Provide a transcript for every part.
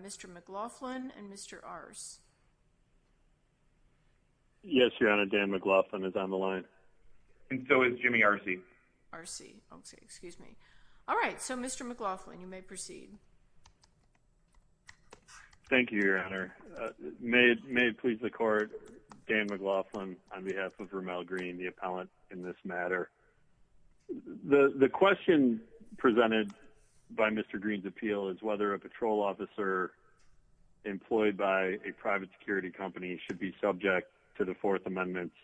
Mr. McLaughlin and Mr. Arce Yes, Your Honor, Dan McLaughlin is on the line. And so is Jimmy Arce. Arce, okay, excuse me. All right, so Mr. McLaughlin, you may proceed. Thank you, Your Honor. May it please the Court, Dan McLaughlin on behalf of Rumael Green, the appellant in this matter. The question presented by Mr. Green's appeal is whether a patrol officer employed by a private security company should be subject to the Fourth Amendment's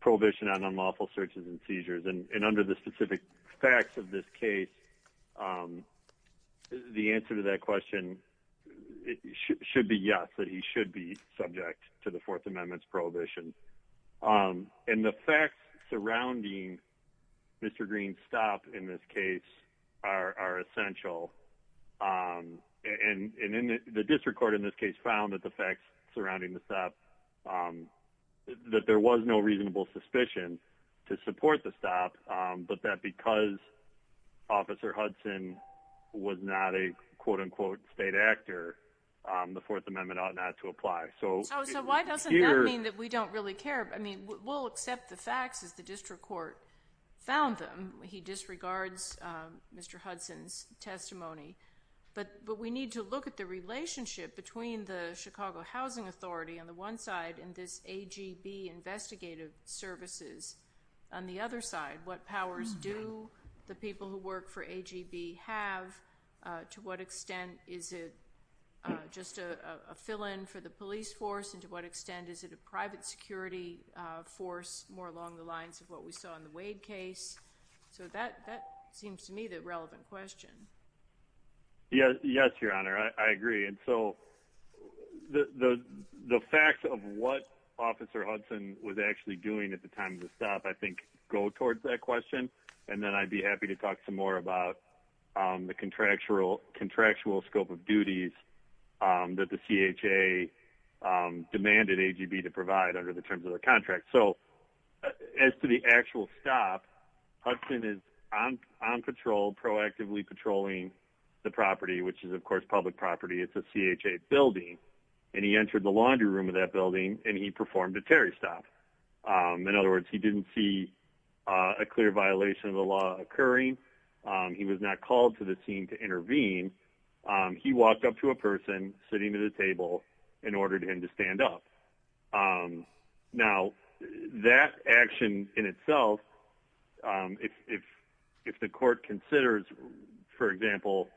prohibition on unlawful searches and seizures. And under the specific facts of this case, the answer to that question should be yes, that he should be subject to the Fourth Amendment's prohibition. And the facts surrounding Mr. Green's stop in this case are essential. And the district court in this case found that the facts surrounding the stop, that there was no reasonable suspicion to support the stop, but that because Officer Hudson was not a quote-unquote state actor, the Fourth Amendment ought not to apply. So why doesn't that mean that we don't really care? I mean, we'll accept the facts as the district court found them. He disregards Mr. Hudson's testimony. But we need to look at the relationship between the Chicago Housing Authority on the one side and this AGB investigative services on the other side. What powers do the people who work for AGB have? To what extent is it just a fill-in for the police force? And to what extent is it a private security force more along the lines of what we saw in the Wade case? So that seems to me the relevant question. Yes, Your Honor, I agree. And so the facts of what Officer Hudson was actually doing at the time of the stop, I think, go towards that question. And then I'd be happy to talk some more about the contractual scope of duties that the CHA demanded AGB to provide under the terms of the contract. So as to the actual stop, Hudson is on patrol, proactively patrolling the property, which is, of course, public property. It's a CHA building. And he entered the laundry room of that building and he performed a Terry stop. In other words, he didn't see a clear violation of the law occurring. He was not called to the scene to intervene. He walked up to a person sitting at a table and ordered him to stand up. Now, that action in itself, if the court considers, for example,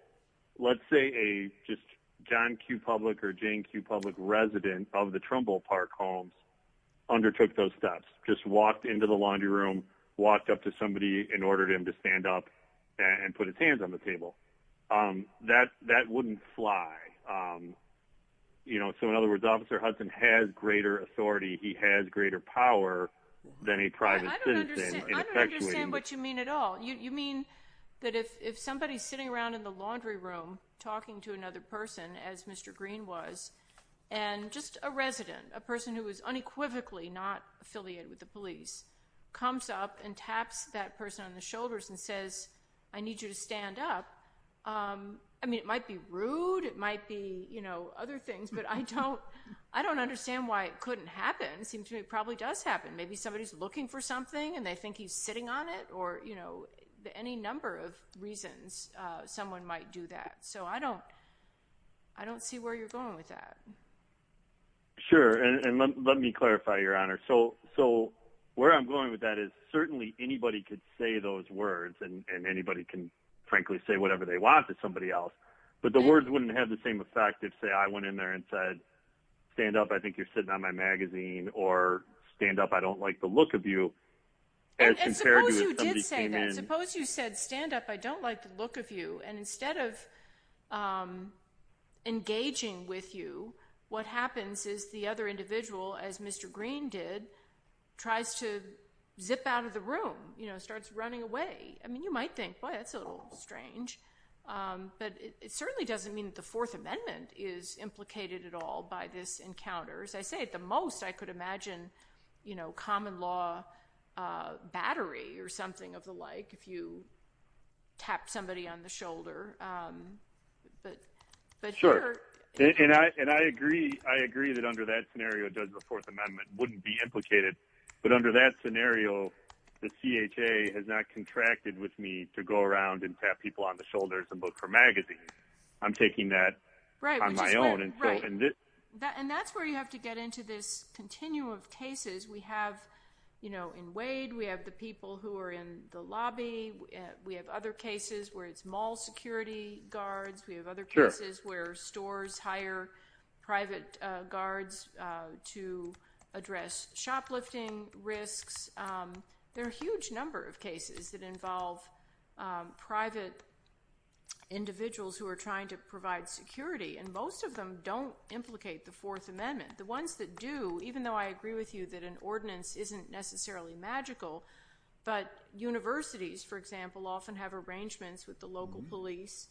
let's say a just John Q. Public or Jane Q. Public resident of the Trumbull Park homes undertook those steps, just walked into the laundry room, walked up to somebody, and ordered him to stand up and put his hands on the table. That wouldn't fly. So in other words, Officer Hudson has greater authority. He has greater power than a private citizen. I don't understand what you mean at all. You mean that if somebody's sitting around in the laundry room talking to another person, as Mr. Green was, and just a resident, a person who is unequivocally not affiliated with the police, comes up and taps that person on the shoulders and says, I need you to stand up. I mean, it might be rude. It might be other things, but I don't understand why it couldn't happen. It seems to me it probably does happen. Maybe somebody's looking for something and they think he's sitting on it or any number of reasons someone might do that. So I don't see where you're going with that. Sure. And let me clarify, Your Honor. So where I'm going with that is certainly anybody could say those words, and anybody can frankly say whatever they want to somebody else. But the words wouldn't have the same effect if, say, I went in there and said, stand up, I think you're sitting on my magazine, or stand up, I don't like the look of you. And suppose you did say that. Suppose you said, stand up, I don't like the look of you. And instead of engaging with you, what happens is the other individual, as Mr. Green did, tries to zip out of the room, starts running away. I mean, you might think, boy, that's a little strange. But it certainly doesn't mean that the Fourth Amendment is implicated at all by this encounter. As I say, at the most, I could imagine common law battery or something of the like if you tap somebody on the shoulder. Right. And that's where you have to get into this continuum of cases. We have, you know, in Wade, we have the people who are in the lobby. We have other cases where it's mall security. We have other cases where it's, you know, people who are in the lobby. We have other cases where stores hire private guards to address shoplifting risks. There are a huge number of cases that involve private individuals who are trying to provide security. And most of them don't implicate the Fourth Amendment. The ones that do, even though I agree with you that an ordinance isn't necessarily magical, but universities, for example, often have arrangements with the local police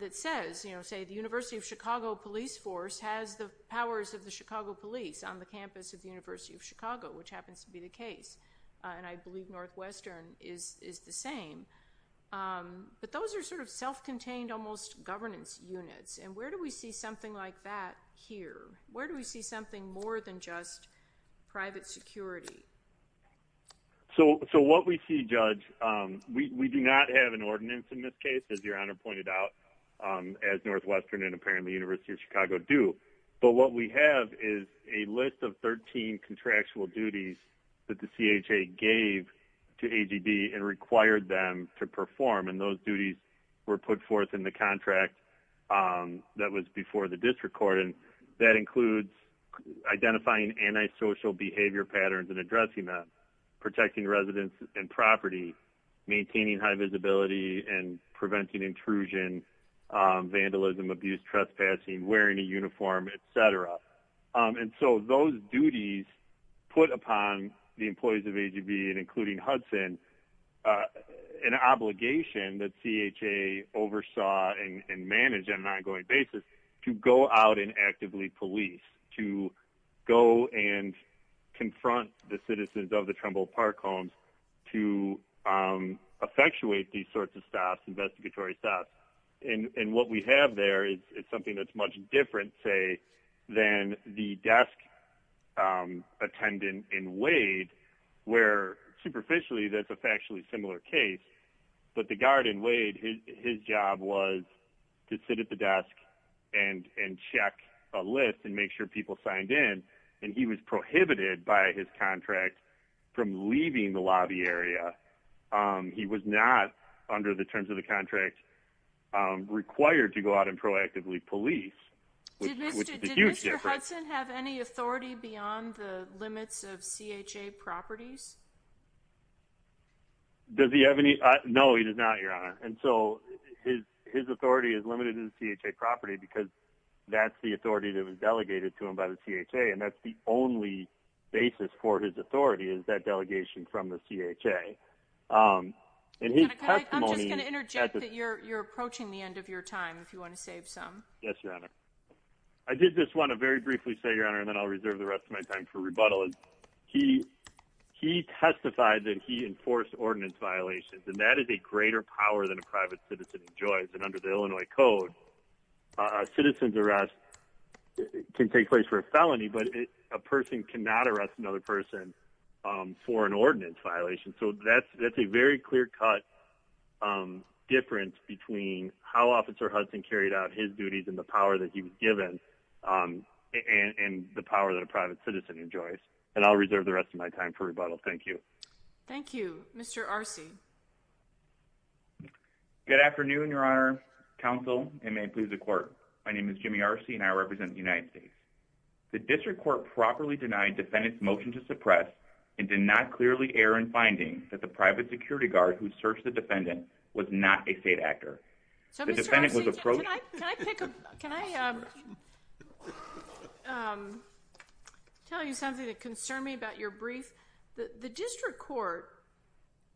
that says, you know, say the University of Chicago police force has the powers of the Chicago police on the campus of the University of Chicago, which happens to be the case. And I believe Northwestern is the same. But those are sort of self-contained, almost governance units. And where do we see something like that here? Where do we see something more than just private security? So what we see, Judge, we do not have an ordinance in this case, as Your Honor pointed out, as Northwestern and apparently University of Chicago do. But what we have is a list of 13 contractual duties that the CHA gave to AGD and required them to perform. And those duties were put forth in the contract that was before the district court. And that includes identifying antisocial behavior patterns and addressing them, protecting residents and property, maintaining high visibility and preventing intrusion, vandalism, abuse, trespassing, wearing a uniform, etc. And so those duties put upon the employees of AGD and including Hudson an obligation that CHA oversaw and managed on an ongoing basis to go out and actively police, to go and confront the citizens of the Trumbull Park homes to effectuate these sorts of stops, investigatory stops. And what we have there is something that's much different, say, than the desk attendant in Wade, where superficially that's a factually similar case. But the guard in Wade, his job was to sit at the desk and check a list and make sure people signed in. And he was prohibited by his contract from leaving the lobby area. He was not, under the terms of the contract, required to go out and proactively police, which is a huge difference. Did Mr. Hudson have any authority beyond the limits of CHA properties? Does he have any? No, he does not, Your Honor. And so his authority is limited in CHA property because that's the authority that was delegated to him by the CHA. And that's the only basis for his authority is that delegation from the CHA. I'm just going to interject that you're approaching the end of your time if you want to save some. Yes, Your Honor. I did just want to very briefly say, Your Honor, and then I'll reserve the rest of my time for rebuttal. He testified that he enforced ordinance violations, and that is a greater power than a private citizen enjoys. And under the Illinois Code, a citizen's arrest can take place for a felony, but a person cannot arrest another person for an ordinance violation. So that's a very clear-cut difference between how Officer Hudson carried out his duties and the power that he was given and the power that a private citizen enjoys. And I'll reserve the rest of my time for rebuttal. Thank you. Thank you. Mr. Arce. Good afternoon, Your Honor, counsel, and may it please the Court. My name is Jimmy Arce, and I represent the United States. The district court properly denied defendant's motion to suppress and did not clearly err in finding that the private security guard who searched the defendant was not a state actor. So, Mr. Arce, can I tell you something that concerned me about your brief? The district court,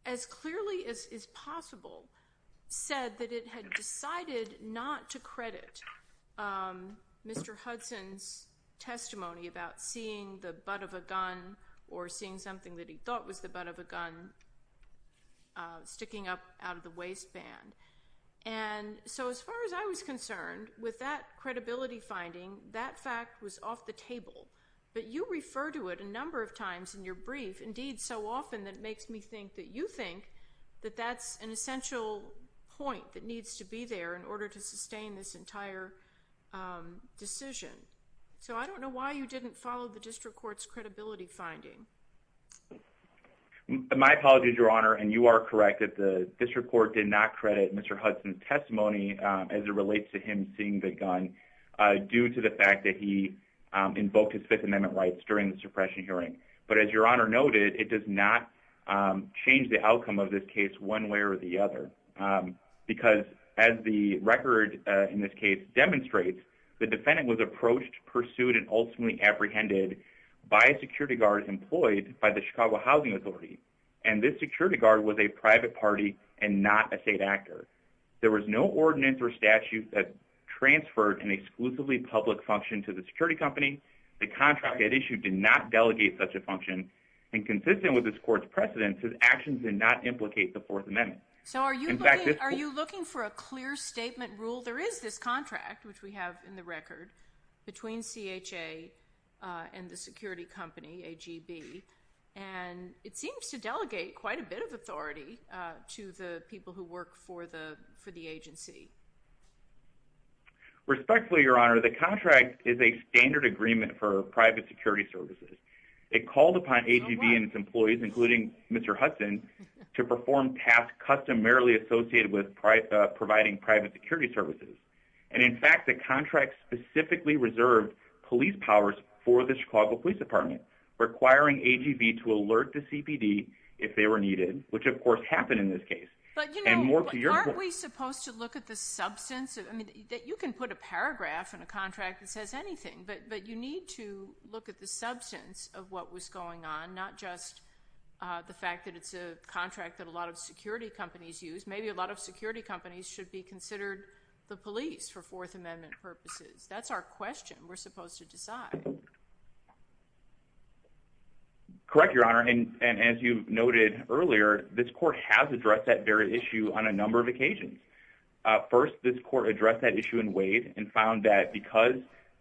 as clearly as is possible, said that it had decided not to credit Mr. Hudson's testimony about seeing the butt of a gun or seeing something that he thought was the butt of a gun sticking up out of the waistband. And so as far as I was concerned, with that credibility finding, that fact was off the table. But you refer to it a number of times in your brief, indeed so often that it makes me think that you think that that's an essential point that needs to be there in order to sustain this entire decision. So I don't know why you didn't follow the district court's credibility finding. My apologies, Your Honor, and you are correct that the district court did not credit Mr. Hudson's testimony as it relates to him seeing the gun due to the fact that he invoked his Fifth Amendment rights during the suppression hearing. But as Your Honor noted, it does not change the outcome of this case one way or the other. Because as the record in this case demonstrates, the defendant was approached, pursued, and ultimately apprehended by a security guard employed by the Chicago Housing Authority. And this security guard was a private party and not a state actor. There was no ordinance or statute that transferred an exclusively public function to the security company. The contract at issue did not delegate such a function. And consistent with this court's precedence, his actions did not implicate the Fourth Amendment. So are you looking for a clear statement rule? There is this contract, which we have in the record, between CHA and the security company, AGB, and it seems to delegate quite a bit of authority to the people who work for the agency. Respectfully, Your Honor, the contract is a standard agreement for private security services. It called upon AGB and its employees, including Mr. Hudson, to perform tasks customarily associated with providing private security services. And in fact, the contract specifically reserved police powers for the Chicago Police Department, requiring AGB to alert the CPD if they were needed, which of course happened in this case. But, you know, aren't we supposed to look at the substance? I mean, you can put a paragraph in a contract that says anything, but you need to look at the substance of what was going on, not just the fact that it's a contract that a lot of security companies use. Maybe a lot of security companies should be considered the police for Fourth Amendment purposes. That's our question we're supposed to decide. Correct, Your Honor. And as you noted earlier, this court has addressed that very issue on a number of occasions. First, this court addressed that issue in Wade and found that because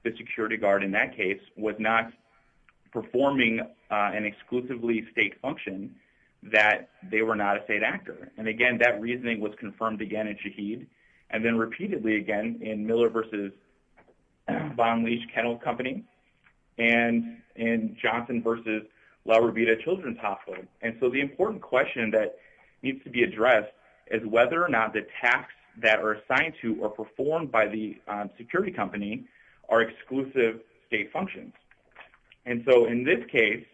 the security guard in that case was not performing an exclusively state function, that they were not a state actor. And again, that reasoning was confirmed again in Shaheed. And then repeatedly again in Miller v. Bond Leach Kennel Company and in Johnson v. La Robita Children's Hospital. And so the important question that needs to be addressed is whether or not the tasks that are assigned to or performed by the security company are exclusive state functions. And so in this case,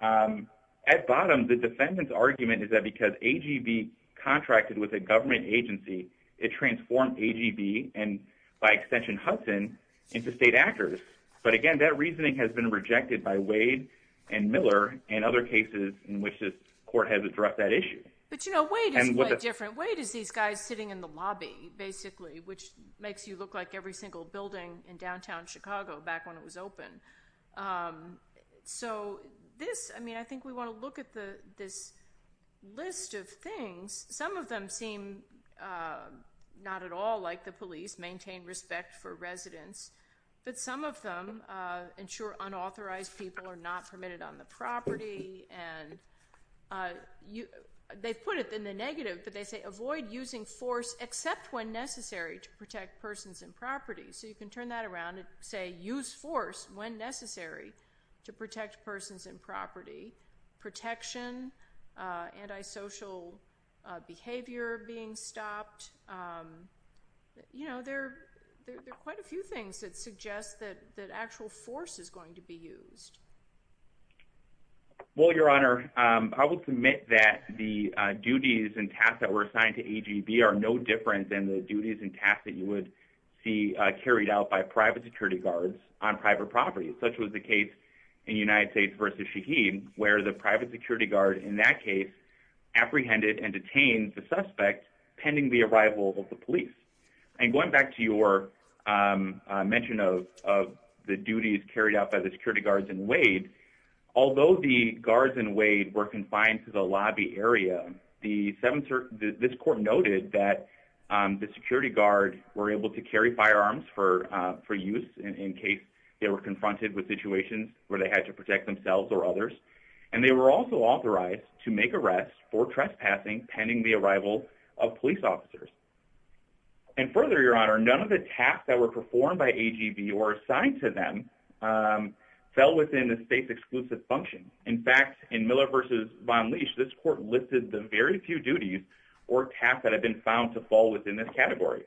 at bottom, the defendant's argument is that because AGB contracted with a government agency, it transformed AGB and by extension Hudson into state actors. But again, that reasoning has been rejected by Wade and Miller and other cases in which this court has addressed that issue. But you know, Wade is quite different. Wade is these guys sitting in the lobby, basically, which makes you look like every single building in downtown Chicago back when it was open. So this, I mean, I think we want to look at this list of things. Some of them seem not at all like the police maintain respect for residents. But some of them ensure unauthorized people are not permitted on the property. And they've put it in the negative, but they say avoid using force except when necessary to protect persons and property. So you can turn that around and say use force when necessary to protect persons and property. Protection, antisocial behavior being stopped. You know, there are quite a few things that suggest that actual force is going to be used. Well, Your Honor, I will submit that the duties and tasks that were assigned to AGB are no different than the duties and tasks that you would see carried out by private security guards on private property, such was the case in United States versus Shaheen, where the private security guard in that case apprehended and detained the suspect pending the arrival of the police. And going back to your mention of the duties carried out by the security guards in Wade, although the guards in Wade were confined to the lobby area, this court noted that the security guards were able to carry firearms for use in case they were confronted with situations where they had to protect themselves or others. And they were also authorized to make arrests for trespassing pending the arrival of police officers. And further, Your Honor, none of the tasks that were performed by AGB or assigned to them fell within the state's exclusive function. In fact, in Miller versus Von Leash, this court listed the very few duties or tasks that have been found to fall within this category.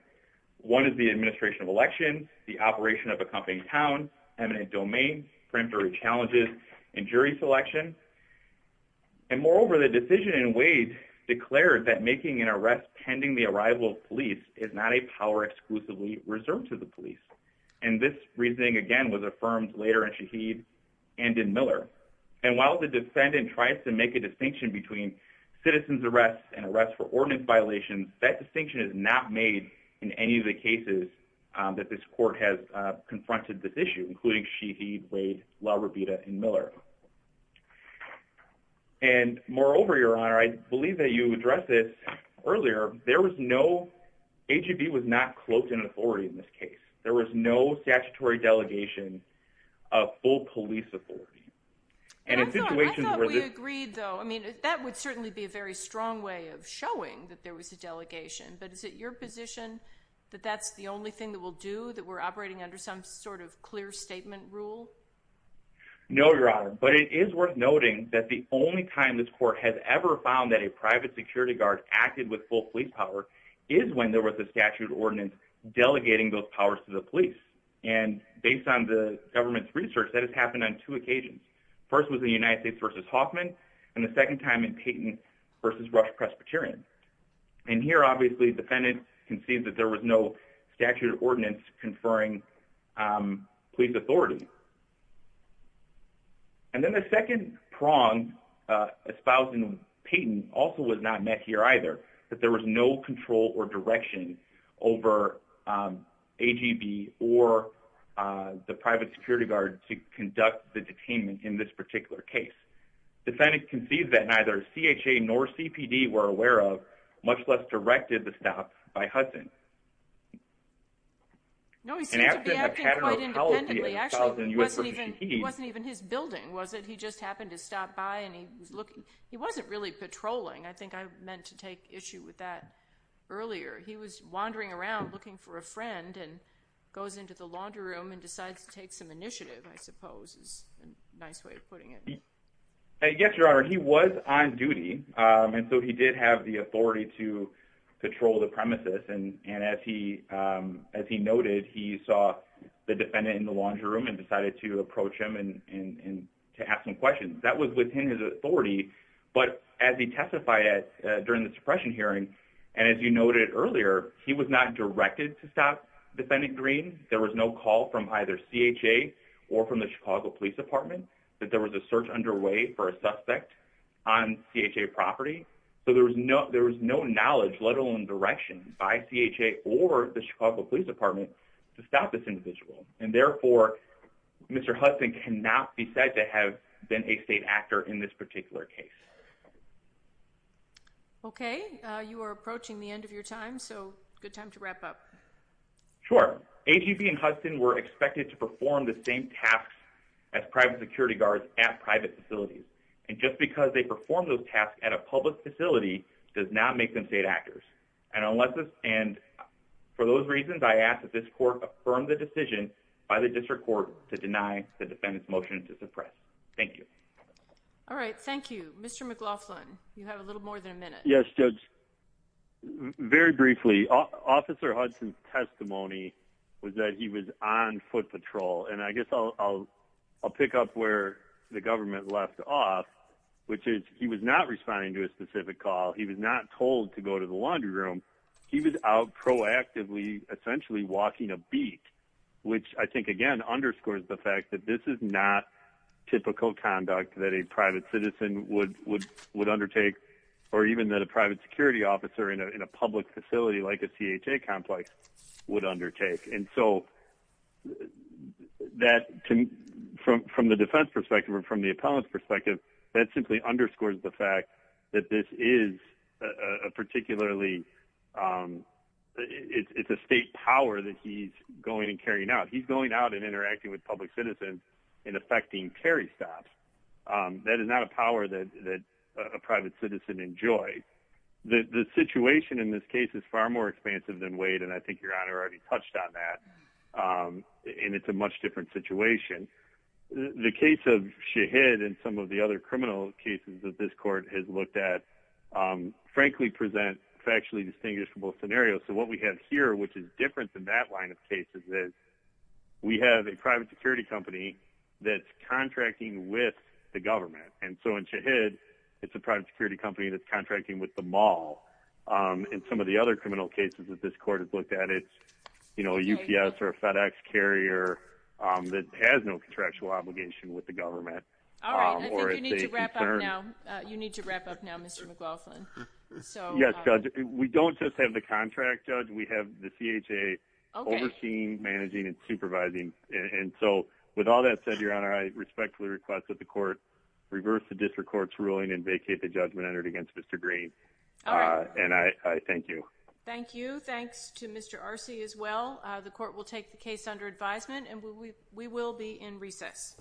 One is the administration of elections, the operation of a company town, eminent domain, preliminary challenges, and jury selection. And moreover, the decision in Wade declared that making an arrest pending the arrival of police is not a power exclusively reserved to the police. And this reasoning, again, was affirmed later in Shaheed and in Miller. And while the defendant tries to make a distinction between citizens' arrests and arrests for ordinance violations, that distinction is not made in any of the cases that this court has confronted this issue, including Shaheed, Wade, La Robita, and Miller. And moreover, Your Honor, I believe that you addressed this earlier. There was no, AGB was not cloaked in authority in this case. There was no statutory delegation of full police authority. I thought we agreed, though. I mean, that would certainly be a very strong way of showing that there was a delegation. But is it your position that that's the only thing that we'll do, that we're operating under some sort of clear statement rule? No, Your Honor. But it is worth noting that the only time this court has ever found that a private security guard acted with full police power is when there was a statute ordinance delegating those powers to the police. And based on the government's research, that has happened on two occasions. First was the United States v. Hoffman, and the second time in Peyton v. Rush Presbyterian. And here, obviously, the defendant concedes that there was no statutory ordinance conferring police authority. And then the second prong espoused in Peyton also was not met here either, that there was no control or direction over AGB or the private security guard to conduct the detainment in this particular case. The defendant concedes that neither CHA nor CPD were aware of, much less directed the stop by Hudson. No, he seemed to be acting quite independently. Actually, it wasn't even his building, was it? He just happened to stop by, and he wasn't really patrolling. I think I meant to take issue with that earlier. He was wandering around looking for a friend and goes into the laundry room and decides to take some initiative, I suppose, is a nice way of putting it. Yes, Your Honor. He was on duty, and so he did have the authority to patrol the premises. And as he noted, he saw the defendant in the laundry room and decided to approach him and to ask some questions. That was within his authority, but as he testified during the suppression hearing, and as you noted earlier, he was not directed to stop defendant Green. There was no call from either CHA or from the Chicago Police Department that there was a search underway for a suspect on CHA property. So there was no knowledge, let alone direction, by CHA or the Chicago Police Department to stop this individual. And therefore, Mr. Hudson cannot be said to have been a state actor in this particular case. Okay, you are approaching the end of your time, so good time to wrap up. Sure. AGB and Hudson were expected to perform the same tasks as private security guards at private facilities. And just because they perform those tasks at a public facility does not make them state actors. And for those reasons, I ask that this court affirm the decision by the district court to deny the defendant's motion to suppress. Thank you. All right, thank you. Mr. McLaughlin, you have a little more than a minute. Yes, Judge. Very briefly, Officer Hudson's testimony was that he was on foot patrol. And I guess I'll pick up where the government left off, which is he was not responding to a specific call. He was not told to go to the laundry room. He was out proactively, essentially walking a beak, which I think, again, underscores the fact that this is not typical conduct that a private citizen would undertake, or even that a private security officer in a public facility like a CHA complex would undertake. And so, from the defense perspective or from the appellant's perspective, that simply underscores the fact that this is a particularly – it's a state power that he's going and carrying out. He's going out and interacting with public citizens and effecting carry stops. That is not a power that a private citizen enjoys. The situation in this case is far more expansive than Wade, and I think Your Honor already touched on that. And it's a much different situation. The case of Shahid and some of the other criminal cases that this court has looked at, frankly, present factually distinguishable scenarios. So what we have here, which is different than that line of cases, is we have a private security company that's contracting with the government. And so in Shahid, it's a private security company that's contracting with the mall. In some of the other criminal cases that this court has looked at, it's a UPS or a FedEx carrier that has no contractual obligation with the government. All right. I think you need to wrap up now, Mr. McLaughlin. Yes, Judge. We don't just have the contract, Judge. We have the CHA overseeing, managing, and supervising. And so, with all that said, Your Honor, I respectfully request that the court reverse the district court's ruling and vacate the judgment entered against Mr. Green. And I thank you. Thank you. Thanks to Mr. Arce as well. The court will take the case under advisement, and we will be in recess.